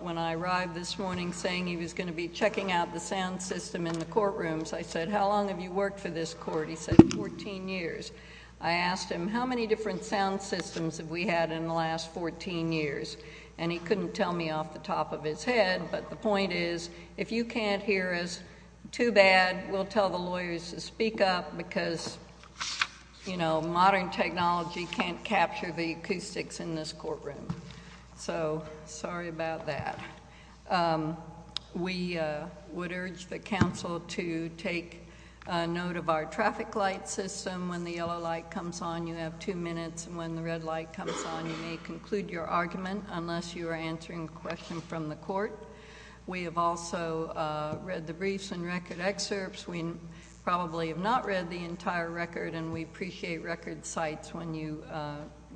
when I arrived this morning saying he was going to be checking out the sound system in the courtrooms I said how long have you worked for this court he said 14 years I asked him how many different sound systems have we had in the last 14 years and he couldn't tell me off the top of his head but the point is if you can't hear us too bad we'll tell the lawyers to speak up because you know about that we would urge the council to take note of our traffic light system when the yellow light comes on you have two minutes when the red light comes on you may conclude your argument unless you are answering questions from the court we have also read the briefs and record excerpts we probably have not read the entire record and we appreciate record sites when you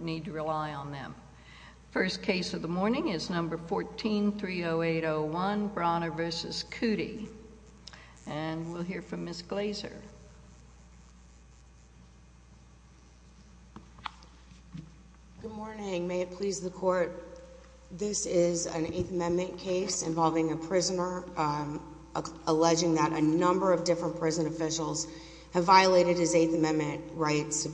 need to rely on them first case of the morning is number 1430801 Brauner v. Coody and we'll hear from Ms. Glazer Good morning may it please the court this is an 8th amendment case involving a prisoner alleging that a number of different prison officials have violated his 8th amendment rights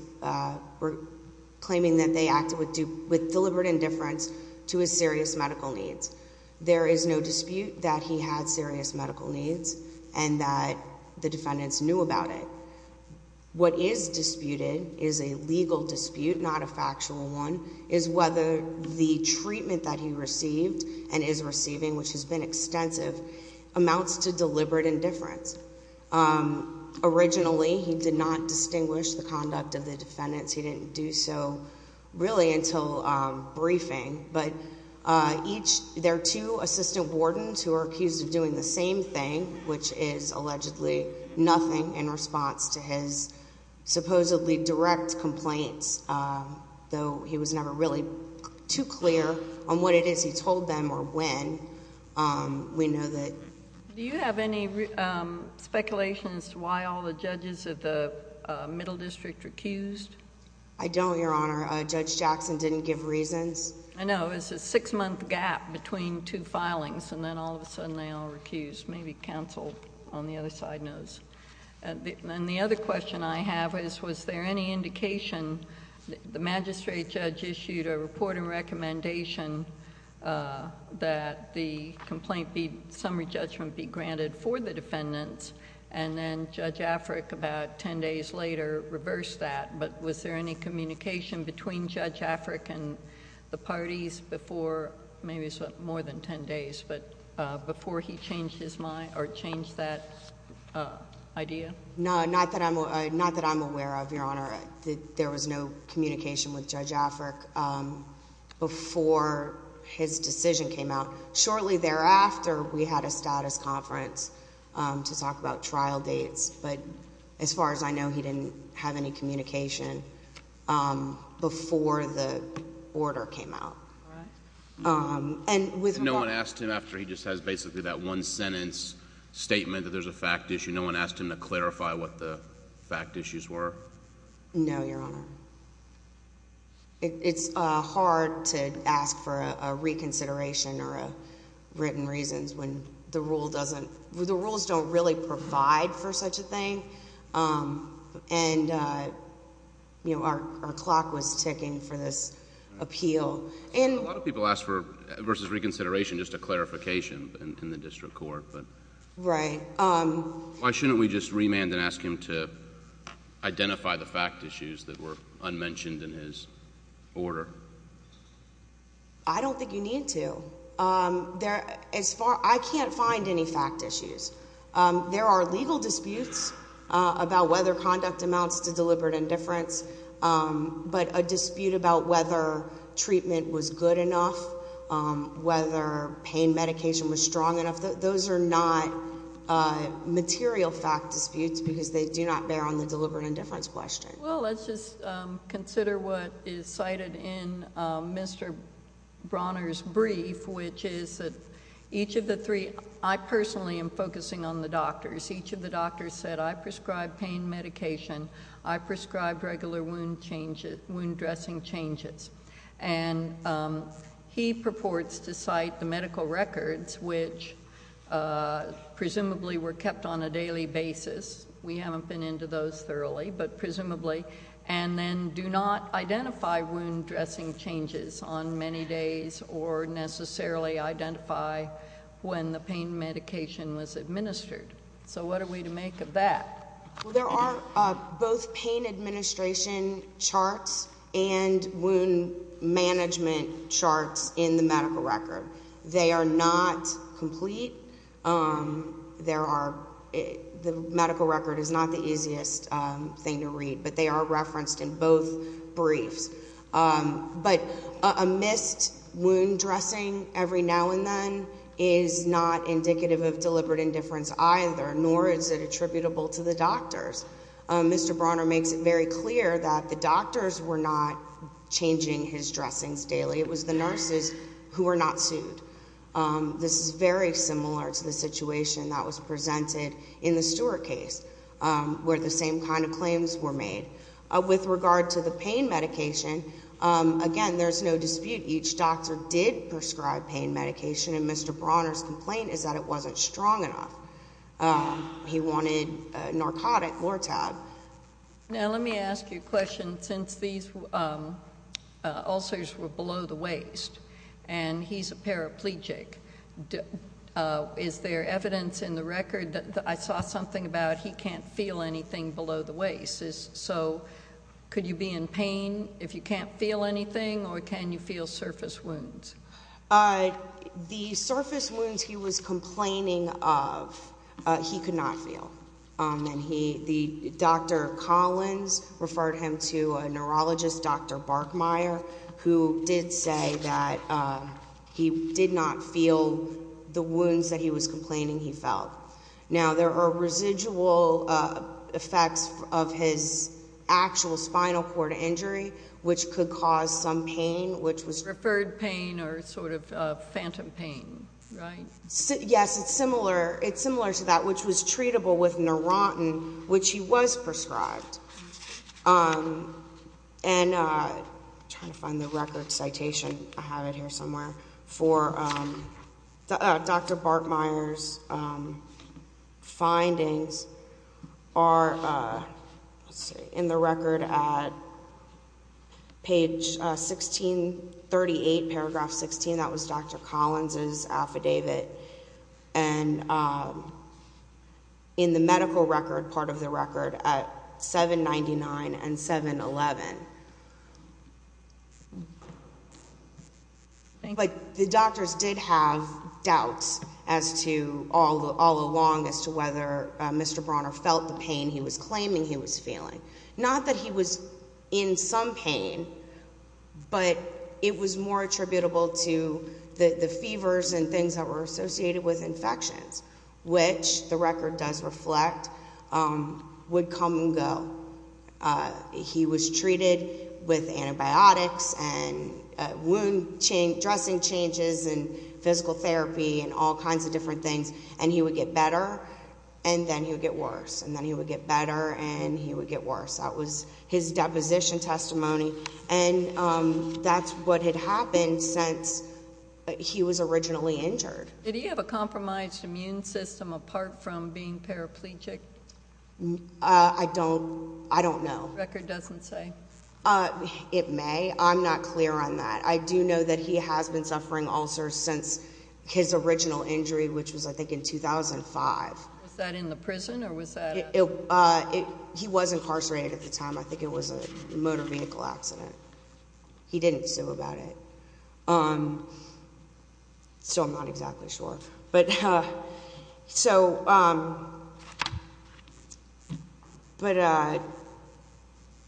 claiming that they acted with deliberate indifference to his serious medical needs there is no dispute that he had serious medical needs and that the defendants knew about it what is disputed is a legal dispute not a factual one is whether the treatment that he received and is receiving which has been extensive amounts to deliberate indifference originally he did not distinguish the conduct of the defendants he didn't do so really until briefing but each their two assistant wardens who are accused of doing the same thing which is allegedly nothing in response to his supposedly direct complaints though he was never really too clear on what it is he told them or when we know that do you have any speculations why all the judges of the middle district recused I don't your honor judge Jackson didn't give reasons I know it's a six-month gap between two filings and then all of a sudden they all recuse maybe counsel on the other side knows and then the other question I have is was there any indication the magistrate judge issued a report and recommendation that the complaint be summary judgment be granted for the defendants and then judge Afrik about ten days later reversed that but was there any communication between judge Afrik and the parties before maybe more than ten days but before he changed his mind or changed that idea no not that I'm not that I'm aware of your honor there was no communication with judge Afrik before his decision came out shortly thereafter we had a status conference to talk about trial dates but as far as I know he didn't have any communication before the order came out and with no one asked him after he just has basically that one sentence statement that there's a fact issue no one asked him to clarify what the fact issues were no your honor it's hard to ask for a reconsideration or a written reasons when the rule doesn't the rules don't really provide for such a thing and you know our clock was ticking for this appeal and a lot of people ask for versus reconsideration just a clarification in the district court but right um why shouldn't we just remand and ask him to identify the fact issues that were unmentioned in his order I don't think you need to there as far I can't find any fact issues there are legal disputes about whether conduct amounts to deliberate indifference but a dispute about whether treatment was good enough whether pain medication was strong enough that those are not material fact disputes because they do not bear on the deliberate indifference question well let's just consider what is cited in Mr. Bronner's brief which is that each of the three I personally am focusing on the doctors each of the doctors said I prescribed pain medication I prescribed regular wound changes wound dressing changes and he purports to cite the medical records which presumably were kept on a daily basis we haven't been into those thoroughly but presumably and then do not identify wound dressing changes on many days or necessarily identify when the pain medication was administered so what are we to make of that there are both pain administration charts and wound management charts in the medical record they are not complete there are the medical record is not the easiest thing to read but they are referenced in both briefs but a missed wound dressing every now and then is not indicative of deliberate indifference either nor is it attributable to the doctors Mr. Bronner makes it very clear that the doctors were not changing his dressings daily it was the nurses who were not sued this is very similar to the situation that was presented in the Stewart case where the same kind of claims were made with regard to the pain medication again there's no dispute each doctor did prescribe pain medication and Mr. Bronner's complaint is that it wasn't strong enough he wanted narcotic Lortab now let me ask you a question since these ulcers were below the waist and he's a paraplegic is there evidence in the record that I saw something about he can't feel anything below the waist is so could you be in pain if you can't feel anything or can you feel surface wounds the surface wounds he was complaining of he could not feel and he the dr. Collins referred him to a neurologist dr. Barkmeyer who did say that he did not feel the wounds that he was complaining he felt now there are residual effects of his actual spinal cord injury which could cause some pain which was referred pain or sort of phantom pain yes it's similar it's similar to that which was treatable with Neurontin which he was prescribed and trying to find the record citation I have it here somewhere for dr. Barkmeyer's findings are in the record page 1638 paragraph 16 that was dr. Collins's affidavit and in the medical record part of the record at 799 and 7-eleven like the doctors did have doubts as to all the all along as to whether mr. Bronner felt the pain he was in some pain but it was more attributable to the the fevers and things that were associated with infections which the record does reflect would come and go he was treated with antibiotics and wound chain dressing changes and physical therapy and all kinds of different things and he would get better and then he would get worse and then he would get better and he deposition testimony and that's what had happened since he was originally injured did he have a compromised immune system apart from being paraplegic I don't I don't know record doesn't say it may I'm not clear on that I do know that he has been suffering ulcers since his original injury which was I think in 2005 that was a motor vehicle accident he didn't so about it um so I'm not exactly sure but so but uh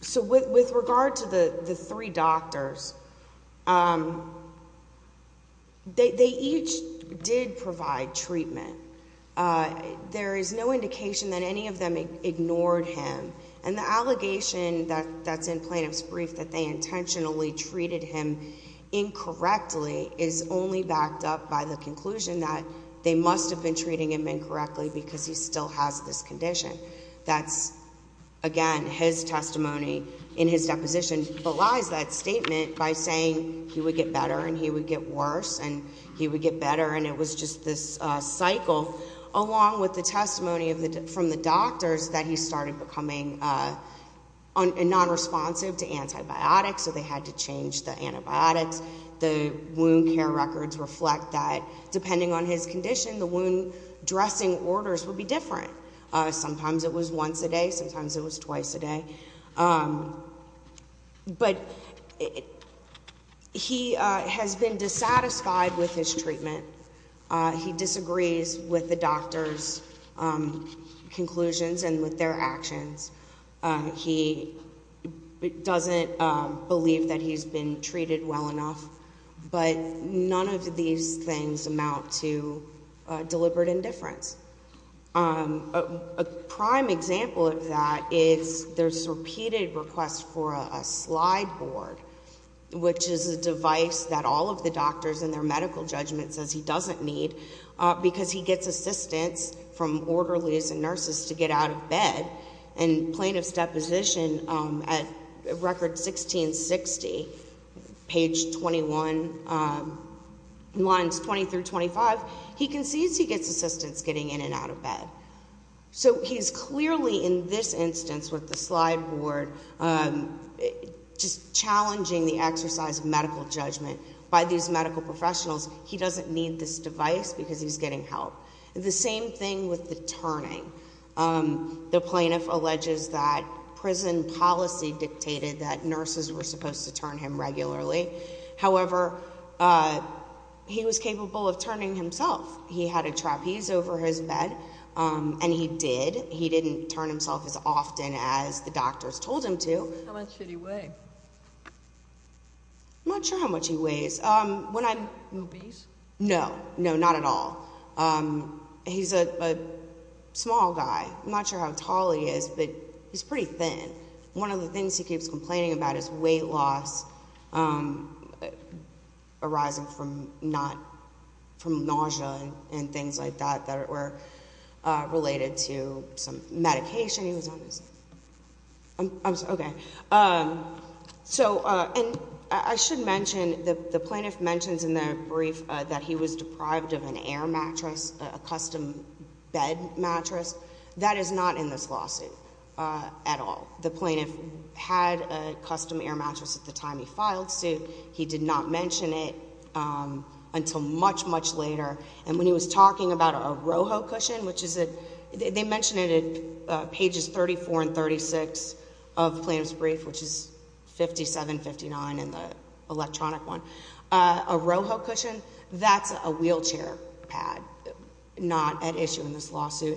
so with with regard to the the three doctors they each did provide treatment there is no indication that any of them ignored him and the allegation that that's in plaintiff's brief that they intentionally treated him incorrectly is only backed up by the conclusion that they must have been treating him incorrectly because he still has this condition that's again his testimony in his deposition belies that statement by saying he would get better and he would get worse and he would get better and it was just this cycle along with the testimony of the from the doctors that he started becoming a non-responsive to antibiotics so they had to change the antibiotics the wound care records reflect that depending on his condition the wound dressing orders would be different sometimes it was once a day sometimes it was twice a day but he has been dissatisfied with his treatment he disagrees with the doctor's conclusions and with their actions he doesn't believe that he's been treated well enough but none of these things amount to deliberate indifference a prime example of that is there's a repeated request for a slide board which is a device that all of the doctors and their medical judgment says he doesn't need because he gets assistance from orderlies and nurses to get out of bed and plaintiff's deposition at record 1660 page 21 lines 20 through 25 he concedes he gets assistance getting in and out of bed so he's clearly in this instance with the slide board just challenging the exercise of medical judgment by these medical professionals he doesn't need this device because he's getting help the same thing with the turning the plaintiff alleges that prison policy dictated that nurses were supposed to regularly however he was capable of turning himself he had a trapeze over his bed and he did he didn't turn himself as often as the doctors told him to much how much he weighs when I'm no no not at all he's a small guy not sure how tall he is but he's pretty thin one of the things he keeps complaining about is weight loss arising from not from nausea and things like that that were related to some medication he was okay so and I should mention that the plaintiff mentions in their brief that he was deprived of an air mattress a custom bed mattress that is not in this lawsuit at all the plaintiff had a custom air mattress at the time he filed suit he did not mention it until much much later and when he was talking about a rojo cushion which is it they mentioned it at pages 34 and 36 of the plaintiff's brief which is 57 59 in the electronic one a rojo cushion that's a wheelchair pad not at issue in this allegation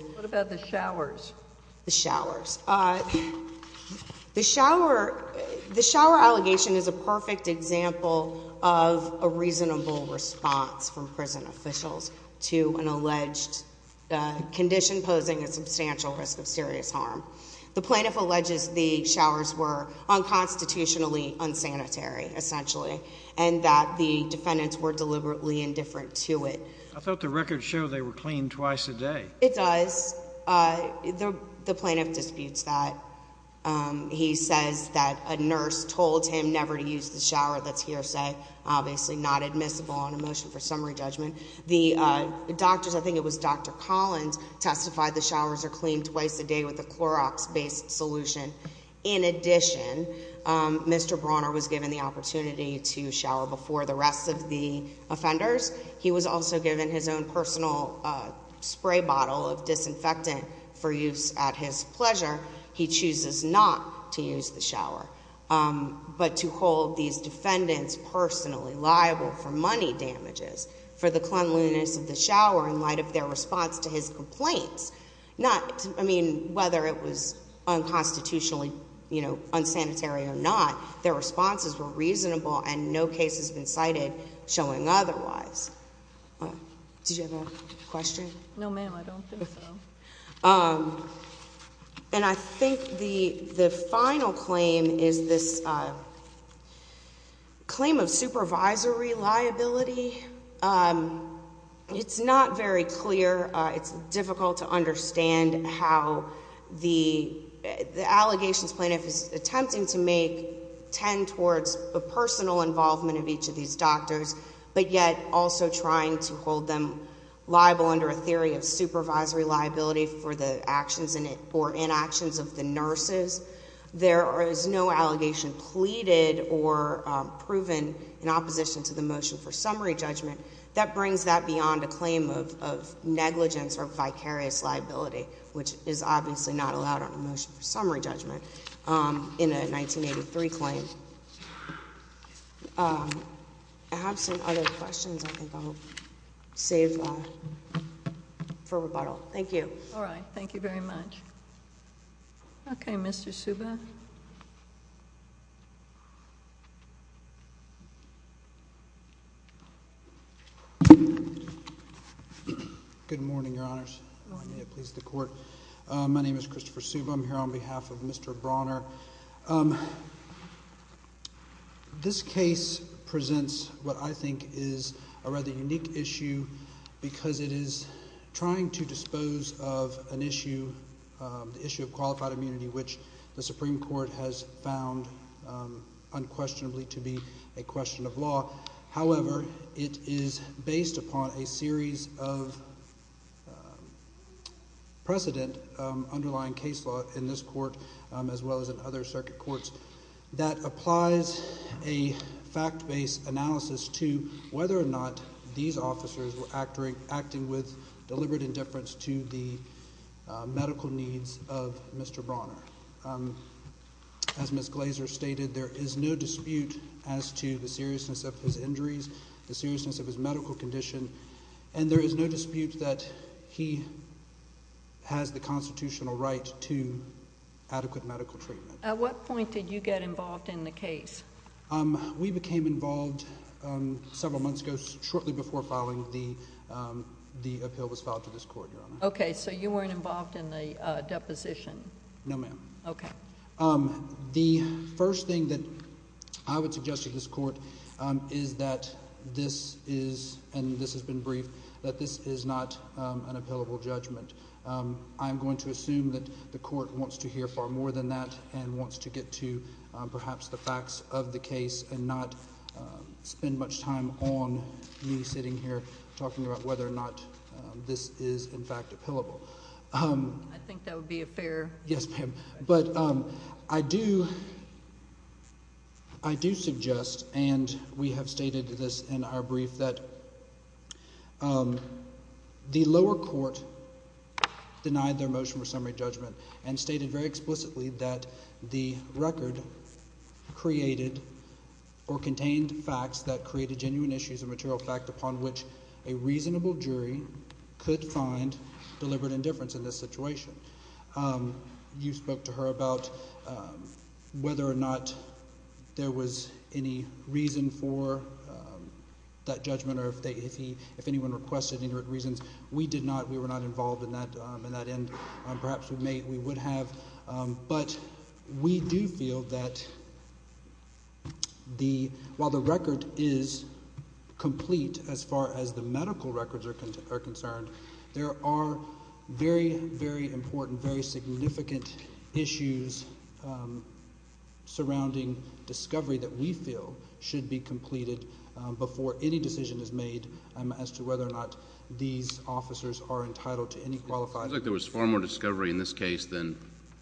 is a perfect example of a reasonable response from prison officials to an alleged condition posing a substantial risk of serious harm the plaintiff alleges the showers were unconstitutionally unsanitary essentially and that the defendants were deliberately indifferent to it I thought the records show they were clean twice a day it does the plaintiff disputes that he says that a nurse told him never to use the shower that's hearsay obviously not admissible on a motion for summary judgment the doctors I think it was dr. Collins testified the showers are clean twice a day with the Clorox based solution in addition mr. Brawner was given the opportunity to shower before the rest of the offenders he was also given his own personal spray bottle of not to use the shower but to hold these defendants personally liable for money damages for the cleanliness of the shower in light of their response to his complaints not I mean whether it was unconstitutionally you know unsanitary or not their responses were reasonable and no case has been cited showing otherwise did you have a question no ma'am I don't think so and I think the the final claim is this claim of supervisory liability it's not very clear it's difficult to understand how the the allegations plaintiff is attempting to make tend towards a personal involvement of each of these doctors but yet also trying to hold them liable under a theory of supervisory liability for the actions in it or in actions of the nurses there is no allegation pleaded or proven in opposition to the motion for summary judgment that brings that beyond a claim of negligence or vicarious liability which is obviously not allowed on a motion for summary judgment in a 1983 claim I have some other questions I think I'll save for rebuttal thank you all right thank you very much okay mr. Suba good morning your honors please the court my name is Christopher Suba I'm here on behalf of mr. Bronner this case presents what I think is a rather unique issue because it is trying to dispose of an issue the issue of qualified immunity which the Supreme Court has found unquestionably to be a question of law however it is based upon a series of precedent underlying case law in this court as well as in other circuit courts that applies a fact-based analysis to whether or not these officers were actoring acting with deliberate indifference to the medical needs of mr. Bronner as miss Glazer stated there is no dispute as to the seriousness of his injuries the seriousness of his medical condition and there is no dispute that he has the constitutional right to adequate medical treatment at what point did you get involved in the case we became involved several months ago shortly before filing the the appeal was filed to this court okay so you weren't involved in the deposition no ma'am okay um the first thing that I would suggest to this court is that this is and this has been briefed that this is not an appellable judgment I'm going to assume that the court wants to hear far more than that and wants to get to perhaps the facts of the case and not spend much time on me sitting here talking about whether or not this is in fact appellable I think that would be a fair yes ma'am but I do I do suggest and we have stated this in our brief that the lower court denied their motion for summary judgment and stated very explicitly that the record created or contained facts that created genuine issues of material fact upon which a reasonable jury could find deliberate indifference in this situation you spoke to her about whether or not there was any reason for that judgment or if they if he if anyone requested any reasons we did not we were not involved in that in that end perhaps we may we would have but we do feel that the while the record is complete as far as the medical records are concerned there are very very important very significant issues surrounding discovery that we feel should be completed before any decision is made as to whether or not these officers are entitled to any there was far more discovery in this case than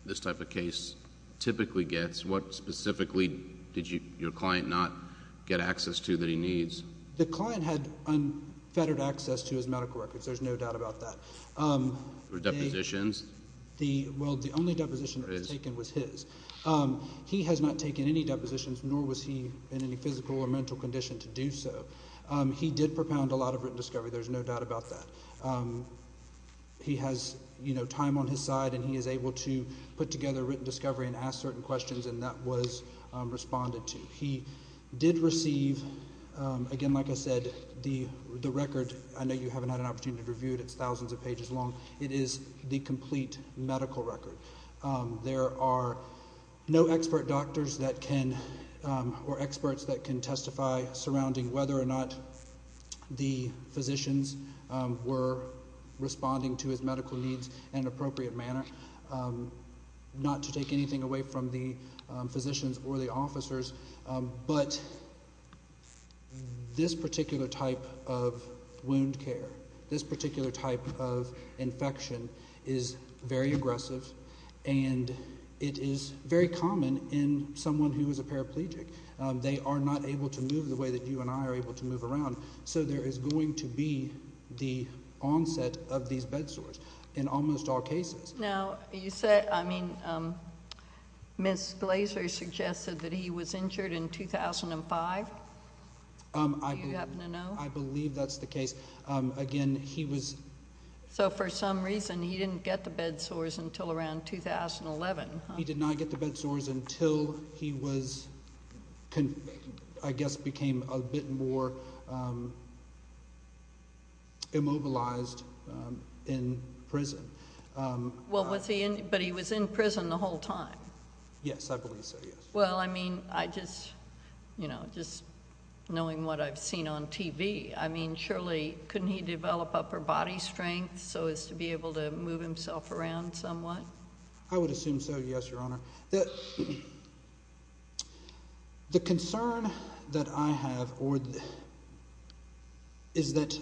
this type of case typically gets what specifically did you your client not get access to that he needs the client had unfettered access to his medical records there's no doubt about that or depositions the world the only deposition taken was his he has not taken any depositions nor was he in any physical or mental condition to do so he did propound a lot of discovery there's no doubt about that he has you know time on his side and he is able to put together written discovery and ask certain questions and that was responded to he did receive again like I said the the record I know you haven't had an opportunity to review it it's thousands of pages long it is the complete medical record there are no expert doctors that can or experts that can testify surrounding whether or not the physicians were responding to his medical needs and appropriate manner not to take anything away from the physicians or the officers but this particular type of wound care this particular type of infection is very they are not able to move the way that you and I are able to move around so there is going to be the onset of these bed sores in almost all cases now you said I mean miss Glazer suggested that he was injured in 2005 I believe that's the case again he was so for some reason he didn't get the bed sores until around 2011 he did not get the bed sores until he was I guess became a bit more immobilized in prison well what's he in but he was in prison the whole time yes I believe so yes well I mean I just you know just knowing what I've seen on TV I mean surely couldn't he develop upper body strength so as to be able to move himself around somewhat I would assume so yes your honor that the concern that I have or is that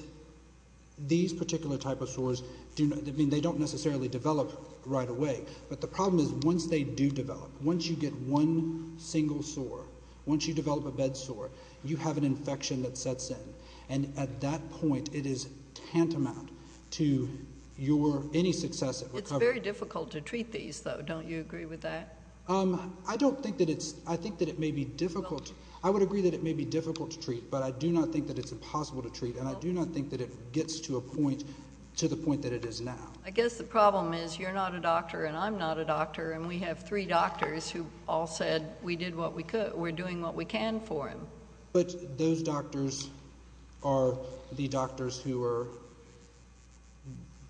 these particular type of sores do not mean they don't necessarily develop right away but the problem is once they do develop once you get one single sore once you develop a bed sore you have an infection that sets and at that point it is tantamount to your any success it's very difficult to treat these though don't you agree with that I don't think that it's I think that it may be difficult I would agree that it may be difficult to treat but I do not think that it's impossible to treat and I do not think that it gets to a point to the point that it is now I guess the problem is you're not a doctor and I'm not a doctor and we have three doctors who all said we did what we we're doing what we can for him but those doctors are the doctors who are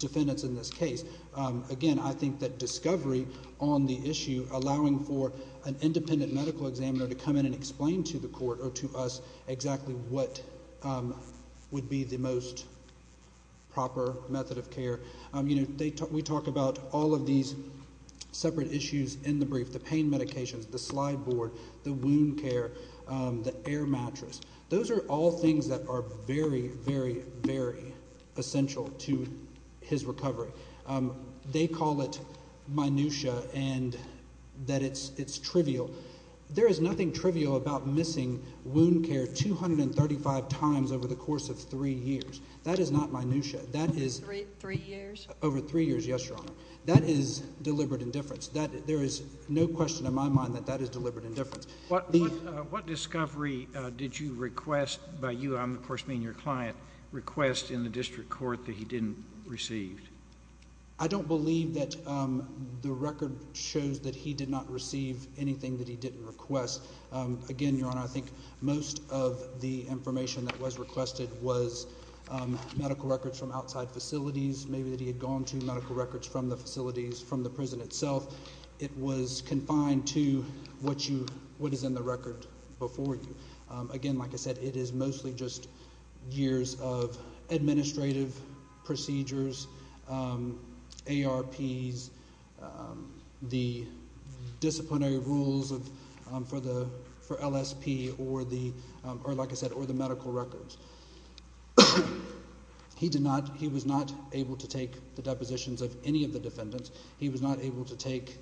defendants in this case again I think that discovery on the issue allowing for an independent medical examiner to come in and explain to the court or to us exactly what would be the most proper method of care you know they talk we talk about all of these separate issues in the brief the pain medications the board the wound care the air mattress those are all things that are very very very essential to his recovery they call it minutiae and that it's it's trivial there is nothing trivial about missing wound care 235 times over the course of three years that is not minutiae that is three years over three years yes your honor that is deliberate indifference that there is no question in my mind that that is deliberate indifference what the what discovery did you request by you I'm of course being your client request in the district court that he didn't receive I don't believe that the record shows that he did not receive anything that he didn't request again your honor I think most of the information that was requested was medical records from outside facilities maybe that he had gone to medical records from the facilities from the what you what is in the record before you again like I said it is mostly just years of administrative procedures ARPs the disciplinary rules of for the for LSP or the or like I said or the medical records he did not he was not able to take the depositions of any of the defendants he was not able to take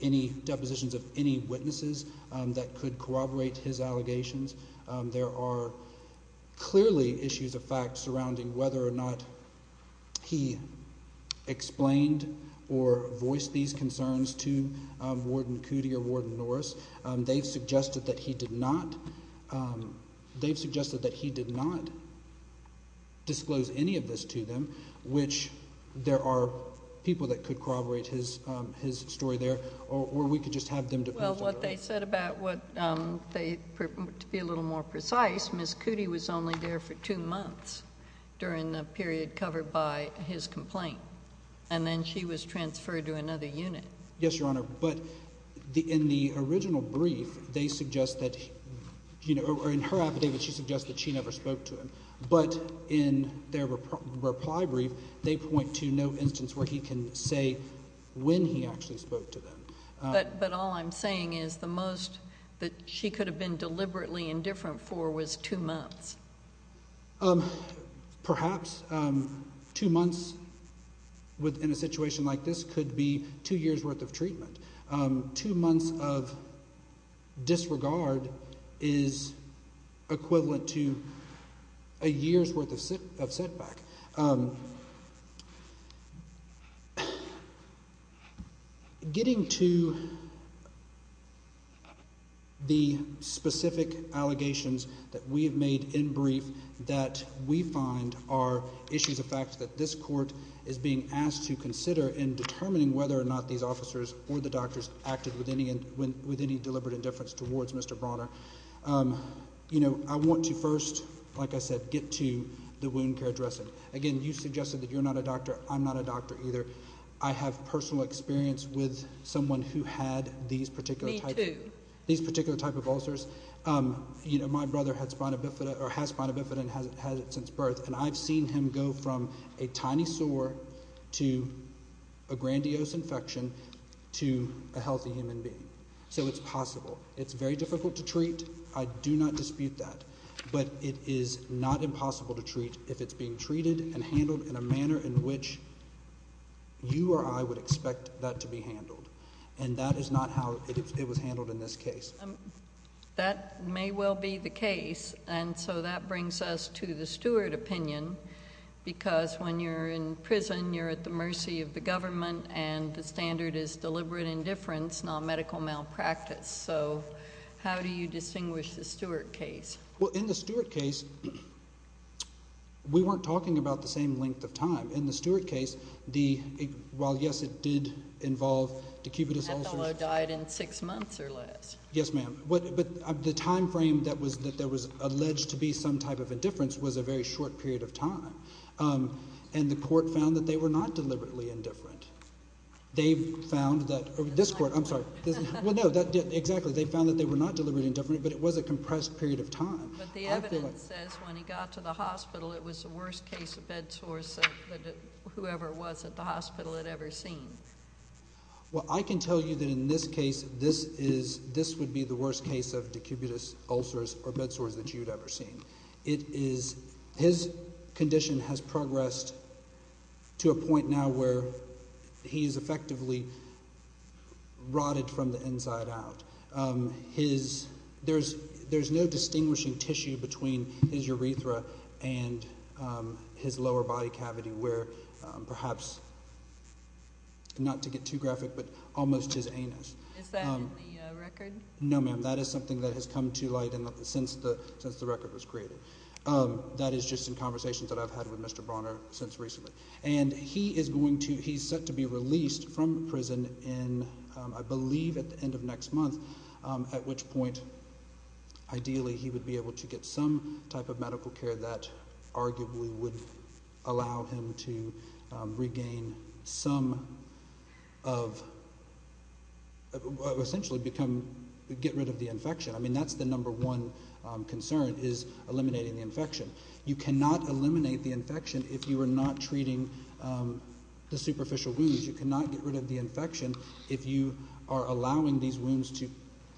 any depositions of any witnesses that could corroborate his allegations there are clearly issues of fact surrounding whether or not he explained or voiced these concerns to Warden Cootey or Warden Norris they suggested that he did not they suggested that he did not disclose any of this to them which there are people that could corroborate his his story there or we could just have them to what they said about what they to be a little more precise miss Cootey was only there for two months during the period covered by his complaint and then she was transferred to another unit yes your honor but the in the original brief they suggest that you know or in her affidavit she suggested she never spoke to him but in their reply brief they point to no instance where he can say when he actually spoke to them but but all I'm saying is the most that she could have been deliberately indifferent for was two months perhaps two months within a situation like this could be two years worth of treatment two months of disregard is equivalent to a year's worth of setback getting to the specific allegations that we have made in brief that we find are issues of fact that this court is being asked to consider in determining whether or not these officers or the doctors acted with any and when with any deliberate indifference towards mr. Bonner you know I want to first like I said get to the wound care dressing again you suggested that you're not a doctor I'm not a doctor either I have personal experience with someone who had these particular type these particular type of ulcers you know my brother had spina bifida or has spina bifida and hasn't had it since birth and I've seen him go from a tiny sore to a grandiose infection to a healthy human being so it's possible it's very difficult to treat I do not dispute that but it is not impossible to treat if it's being treated and handled in a manner in which you or I would expect that to be handled and that is not how it was handled in this case that may well be the case and so that brings us to the steward opinion because when you're in prison you're at the mercy of the government and the standard is deliberate indifference not medical malpractice so how do you distinguish the Stewart case well in the Stewart case we weren't talking about the same length of time in the Stewart case the while yes it did involve to keep it a soldier died in six months or less yes ma'am what but the time frame that was that there was alleged to be some type of indifference was a very short period of time and the court found that they were not deliberately indifferent they found that this court I'm sorry well no that did exactly they found that they were not deliberately indifferent but it was a compressed period of time whoever was at the hospital had ever seen well I can tell you that in this case this is this would be the worst case of decubitus ulcers or bed sores that you ever seen it is his condition has progressed to a point now where he's effectively rotted from the inside out his there's there's no distinguishing tissue between his urethra and his lower body cavity where perhaps not to get too graphic but almost his anus no ma'am that is something that has come to light since the since the record was created that is just in conversations that I've had with Mr. Bronner since recently and he is going to he's set to be released from prison in I believe at the end of next month at which point ideally he would be able to get some type of medical care that arguably would allow him to regain some of essentially become get rid of the infection I mean that's the number one concern is eliminating the infection you cannot eliminate the infection if you are not treating the superficial wounds you cannot get rid of the infection if you are allowing these wounds to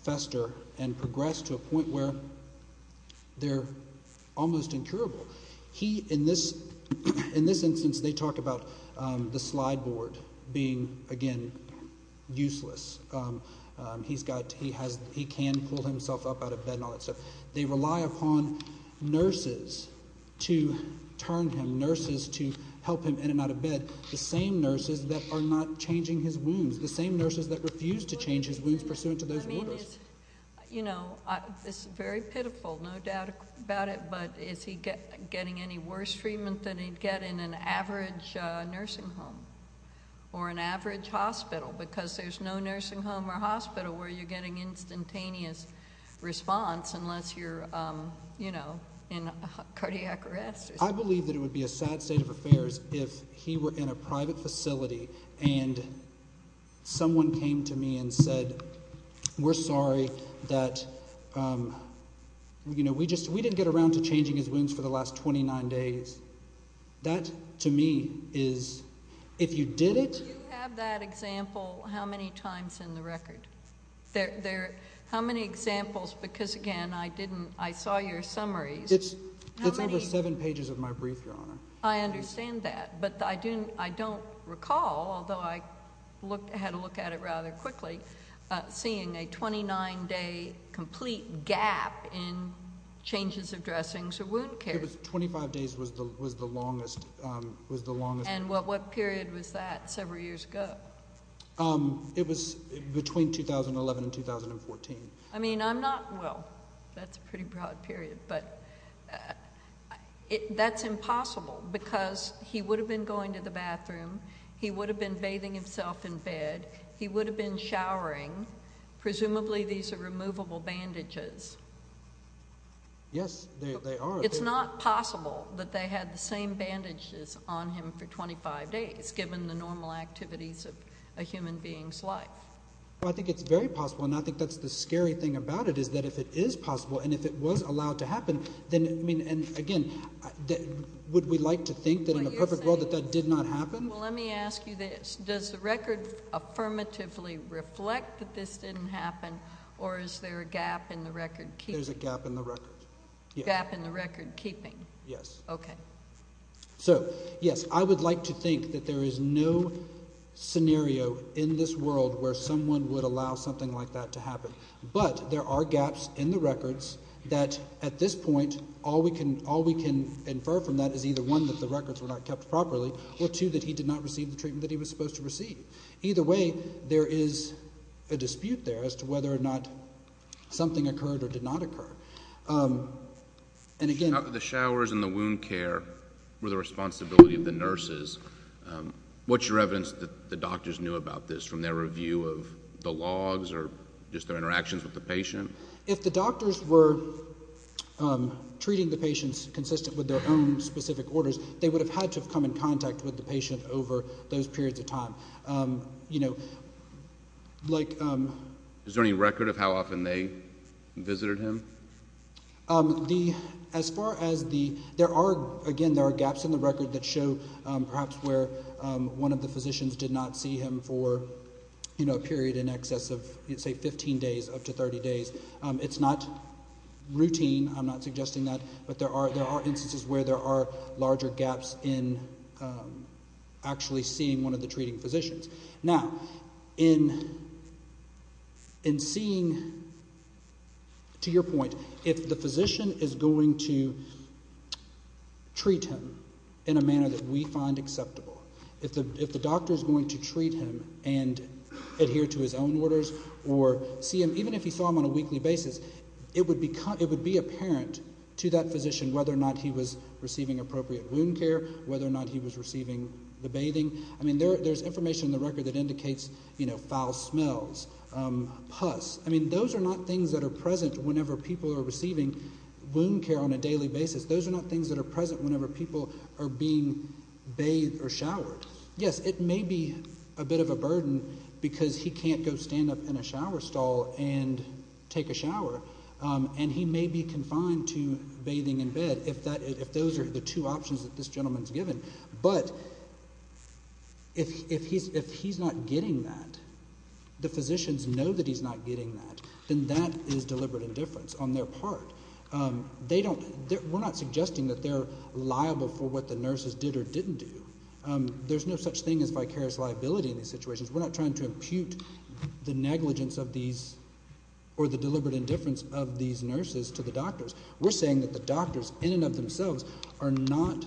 fester and progress to a point where they're almost incurable he in this in this instance they talk about the slide board being again useless he's got he has he can pull himself up out of bed and all that stuff they rely upon nurses to turn him nurses to help him in and out of bed the same nurses that are not changing his wounds the same nurses that refuse to change his wounds pursuant to those you know this is very pitiful no doubt about it but is he getting any worse treatment than he'd get in an average nursing home or an average hospital because there's no you know I believe that it would be a sad state of affairs if he were in a private facility and someone came to me and said we're sorry that you know we just we didn't get around to changing his wounds for the last 29 days that to me is if you did it how many times in the record there how many examples because again I didn't I saw your summary it's it's over seven pages of my brief your honor I understand that but I didn't I don't recall although I looked ahead to look at it rather quickly seeing a 29 day complete gap in changes of dressings or wound care was 25 days was the was the longest was the longest and what what period was that several years ago it was between 2011 and 2014 I mean I'm not well that's a pretty broad period but that's impossible because he would have been going to the bathroom he would have been bathing himself in bed he would have been showering presumably these are removable bandages yes it's not possible that they had the same bandages on him for 25 days given the normal activities of a human being's life I think it's very possible and I it is that if it is possible and if it was allowed to happen then I mean and again that would we like to think that in the perfect world that that did not happen well let me ask you this does the record affirmatively reflect that this didn't happen or is there a gap in the record key there's a gap in the record gap in the record keeping yes okay so yes I would like to think that there is no scenario in this world where someone would allow something like that to there are gaps in the records that at this point all we can all we can infer from that is either one that the records were not kept properly or two that he did not receive the treatment that he was supposed to receive either way there is a dispute there as to whether or not something occurred or did not occur and again the showers and the wound care were the responsibility of the nurses what's your evidence that the doctors knew about this from their review of the patient if the doctors were treating the patients consistent with their own specific orders they would have had to have come in contact with the patient over those periods of time you know like is there any record of how often they visited him the as far as the there are again there are gaps in the record that show perhaps where one of the physicians did not see him for you know a period in excess of you'd say 15 days up to 30 days it's not routine I'm not suggesting that but there are there are instances where there are larger gaps in actually seeing one of the treating physicians now in in seeing to your point if the physician is going to treat him in a manner that we find acceptable if the if doctors going to treat him and adhere to his own orders or see him even if you saw him on a weekly basis it would be it would be apparent to that physician whether or not he was receiving appropriate wound care whether or not he was receiving the bathing I mean there there's information the record that indicates you know foul smells pus I mean those are not things that are present whenever people are receiving wound care on a daily basis those are not things that are present whenever people are being bathed or showered yes it may be a bit of a burden because he can't go stand up in a shower stall and take a shower and he may be confined to bathing in bed if that if those are the two options that this gentleman's given but if he's if he's not getting that the physicians know that he's not getting that then that is deliberate indifference on their part they don't we're not suggesting that they're liable for what the nurses did or didn't do there's no such thing as vicarious liability in these situations we're not trying to impute the negligence of these or the deliberate indifference of these nurses to the doctors we're saying that the doctors in and of themselves are not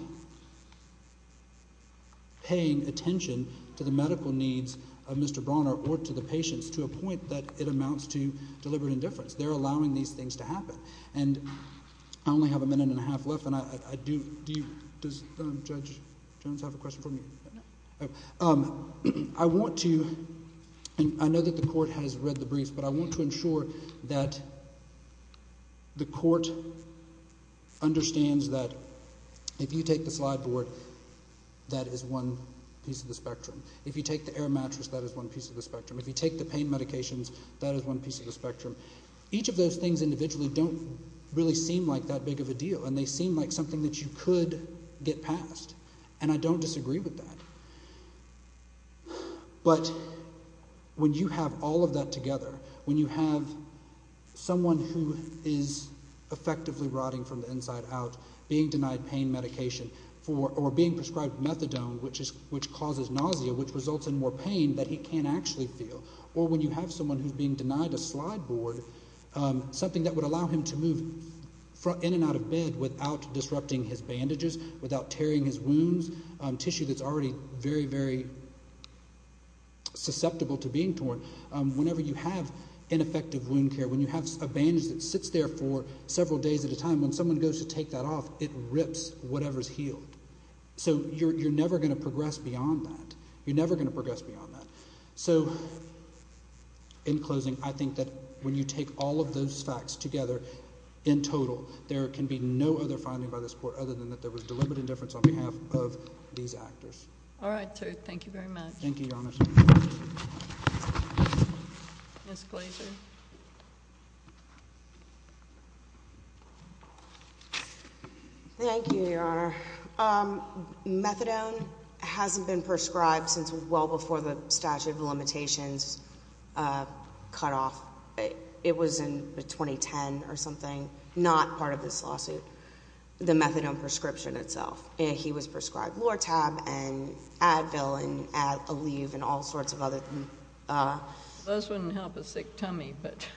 paying attention to the medical needs of Mr. Bronner or to the patients to a point that it amounts to deliberate indifference they're allowing these things to happen and I only have a minute and a half left and I do do you does judge Jones have a question for me I want to and I know that the court has read the briefs but I want to ensure that the court understands that if you take the slide board that is one piece of the spectrum if you take the air mattress that is one piece of the spectrum if you take the pain medications that is one piece of the spectrum each of those things individually don't really seem like that big of a deal and they seem like something that you could get past and I don't disagree with that but when you have all of that together when you have someone who is effectively rotting from the inside out being denied pain medication for or being prescribed methadone which is which causes nausea which results in more pain that he can't actually feel or when you have someone who's being denied a slide board something that would allow him to move in and out of bed without disrupting his bandages without tearing his wounds tissue that's already very very susceptible to being torn whenever you have ineffective wound care when you have a bandage that sits there for several days at a time when someone goes to take that off it rips whatever's healed so you're never going to progress beyond that you're never going to progress beyond that so in closing I think that when you take all of those facts together in total there can be no other finding by this court other than that there was deliberate indifference on behalf of these actors all right sir thank you very much thank you thank you your honor methadone hasn't been prescribed since well before the statute of limitations cut off it was in 2010 or something not part of this lawsuit the methadone prescription itself and he was prescribed lortab and tummy but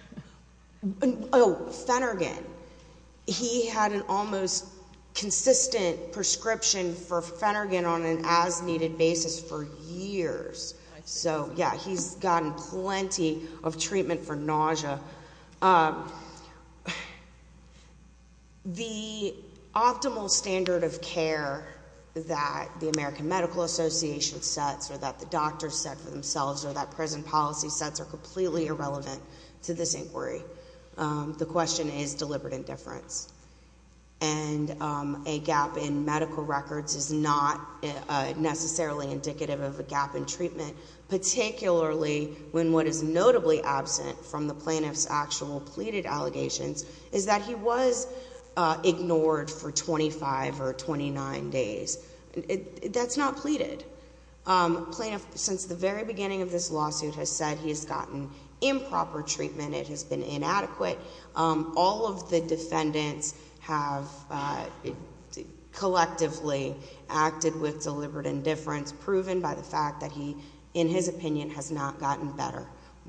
Oh Fenergan he had an almost consistent prescription for Fenergan on an as-needed basis for years so yeah he's gotten plenty of treatment for nausea the optimal standard of care that the American Medical Association sets or that the doctors set for themselves or that prison policy sets are completely irrelevant to this inquiry the question is deliberate indifference and a gap in medical records is not necessarily indicative of a gap in treatment particularly when what is notably absent from the plaintiff's actual pleaded allegations is that he was ignored for 25 or 29 days that's not pleaded plaintiff since the very beginning of this lawsuit has said he has gotten improper treatment it has been inadequate all of the defendants have collectively acted with deliberate indifference proven by the fact that he in his opinion has not gotten better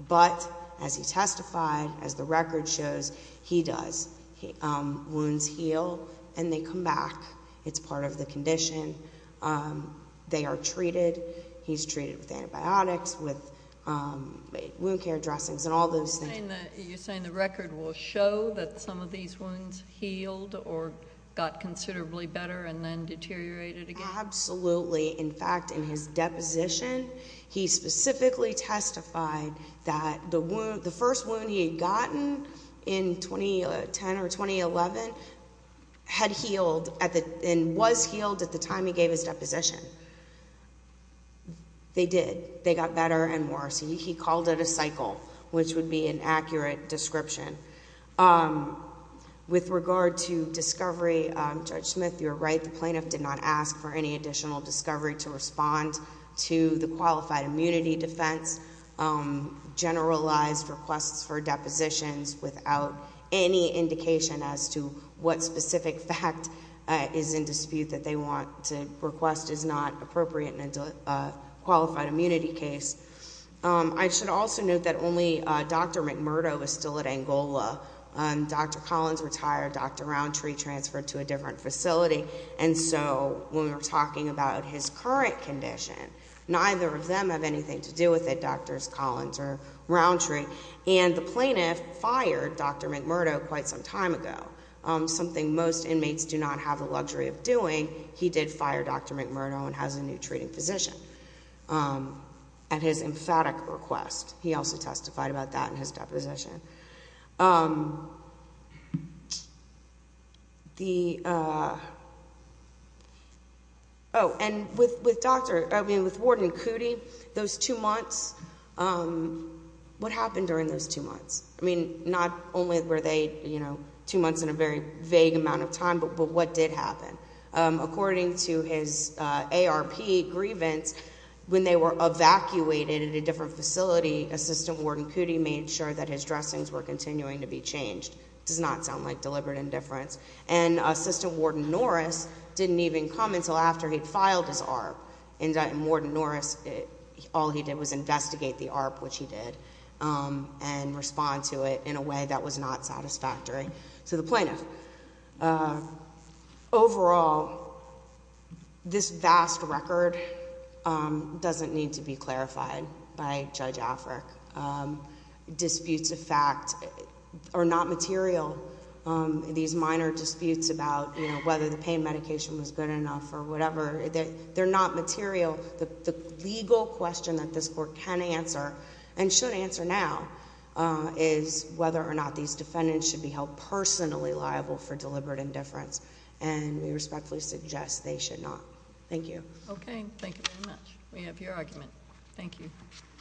but as he testified as the record shows he does he wounds heal and they come back it's part of the condition they are treated he's treated with antibiotics with wound care dressings and all those things you're saying the record will show that some of these wounds healed or got considerably better and then deteriorated again absolutely in fact in his deposition he specifically testified that the wound the first wound he had gotten in 2010 or 2011 had healed at the end was healed at the time he gave his position they did they got better and worse he called it a cycle which would be an accurate description with regard to discovery judge Smith you're right the plaintiff did not ask for any additional discovery to respond to the qualified immunity defense generalized requests for depositions without any indication as to what specific fact is in dispute that they want to request is not appropriate and qualified immunity case I should also note that only dr. McMurdo was still at Angola and dr. Collins retired dr. Roundtree transferred to a different facility and so when we're talking about his current condition neither of them have anything to do with it doctors Collins or roundtree and the plaintiff fired dr. McMurdo quite some time ago something most inmates do not have the luxury of doing he did fire dr. McMurdo and has a new treating physician at his emphatic request he also testified about that in his deposition the doctor those two months what happened during those two months I mean not only were they you know two months in a very vague amount of time but what did happen according to his ARP grievance when they were evacuated in a to be changed does not sound like deliberate indifference and assistant warden Norris didn't even come until after he filed his ARP and warden Norris all he did was investigate the ARP which he did and respond to it in a way that was not satisfactory to the plaintiff overall this vast record doesn't need to be clarified by judge Afrik disputes of fact are not material these minor disputes about whether the pain medication was good enough or whatever they're not material the legal question that this court can answer and should answer now is whether or not these defendants should be held personally liable for deliberate indifference and we respectfully suggest they should not thank you okay thank you very much we have your argument thank you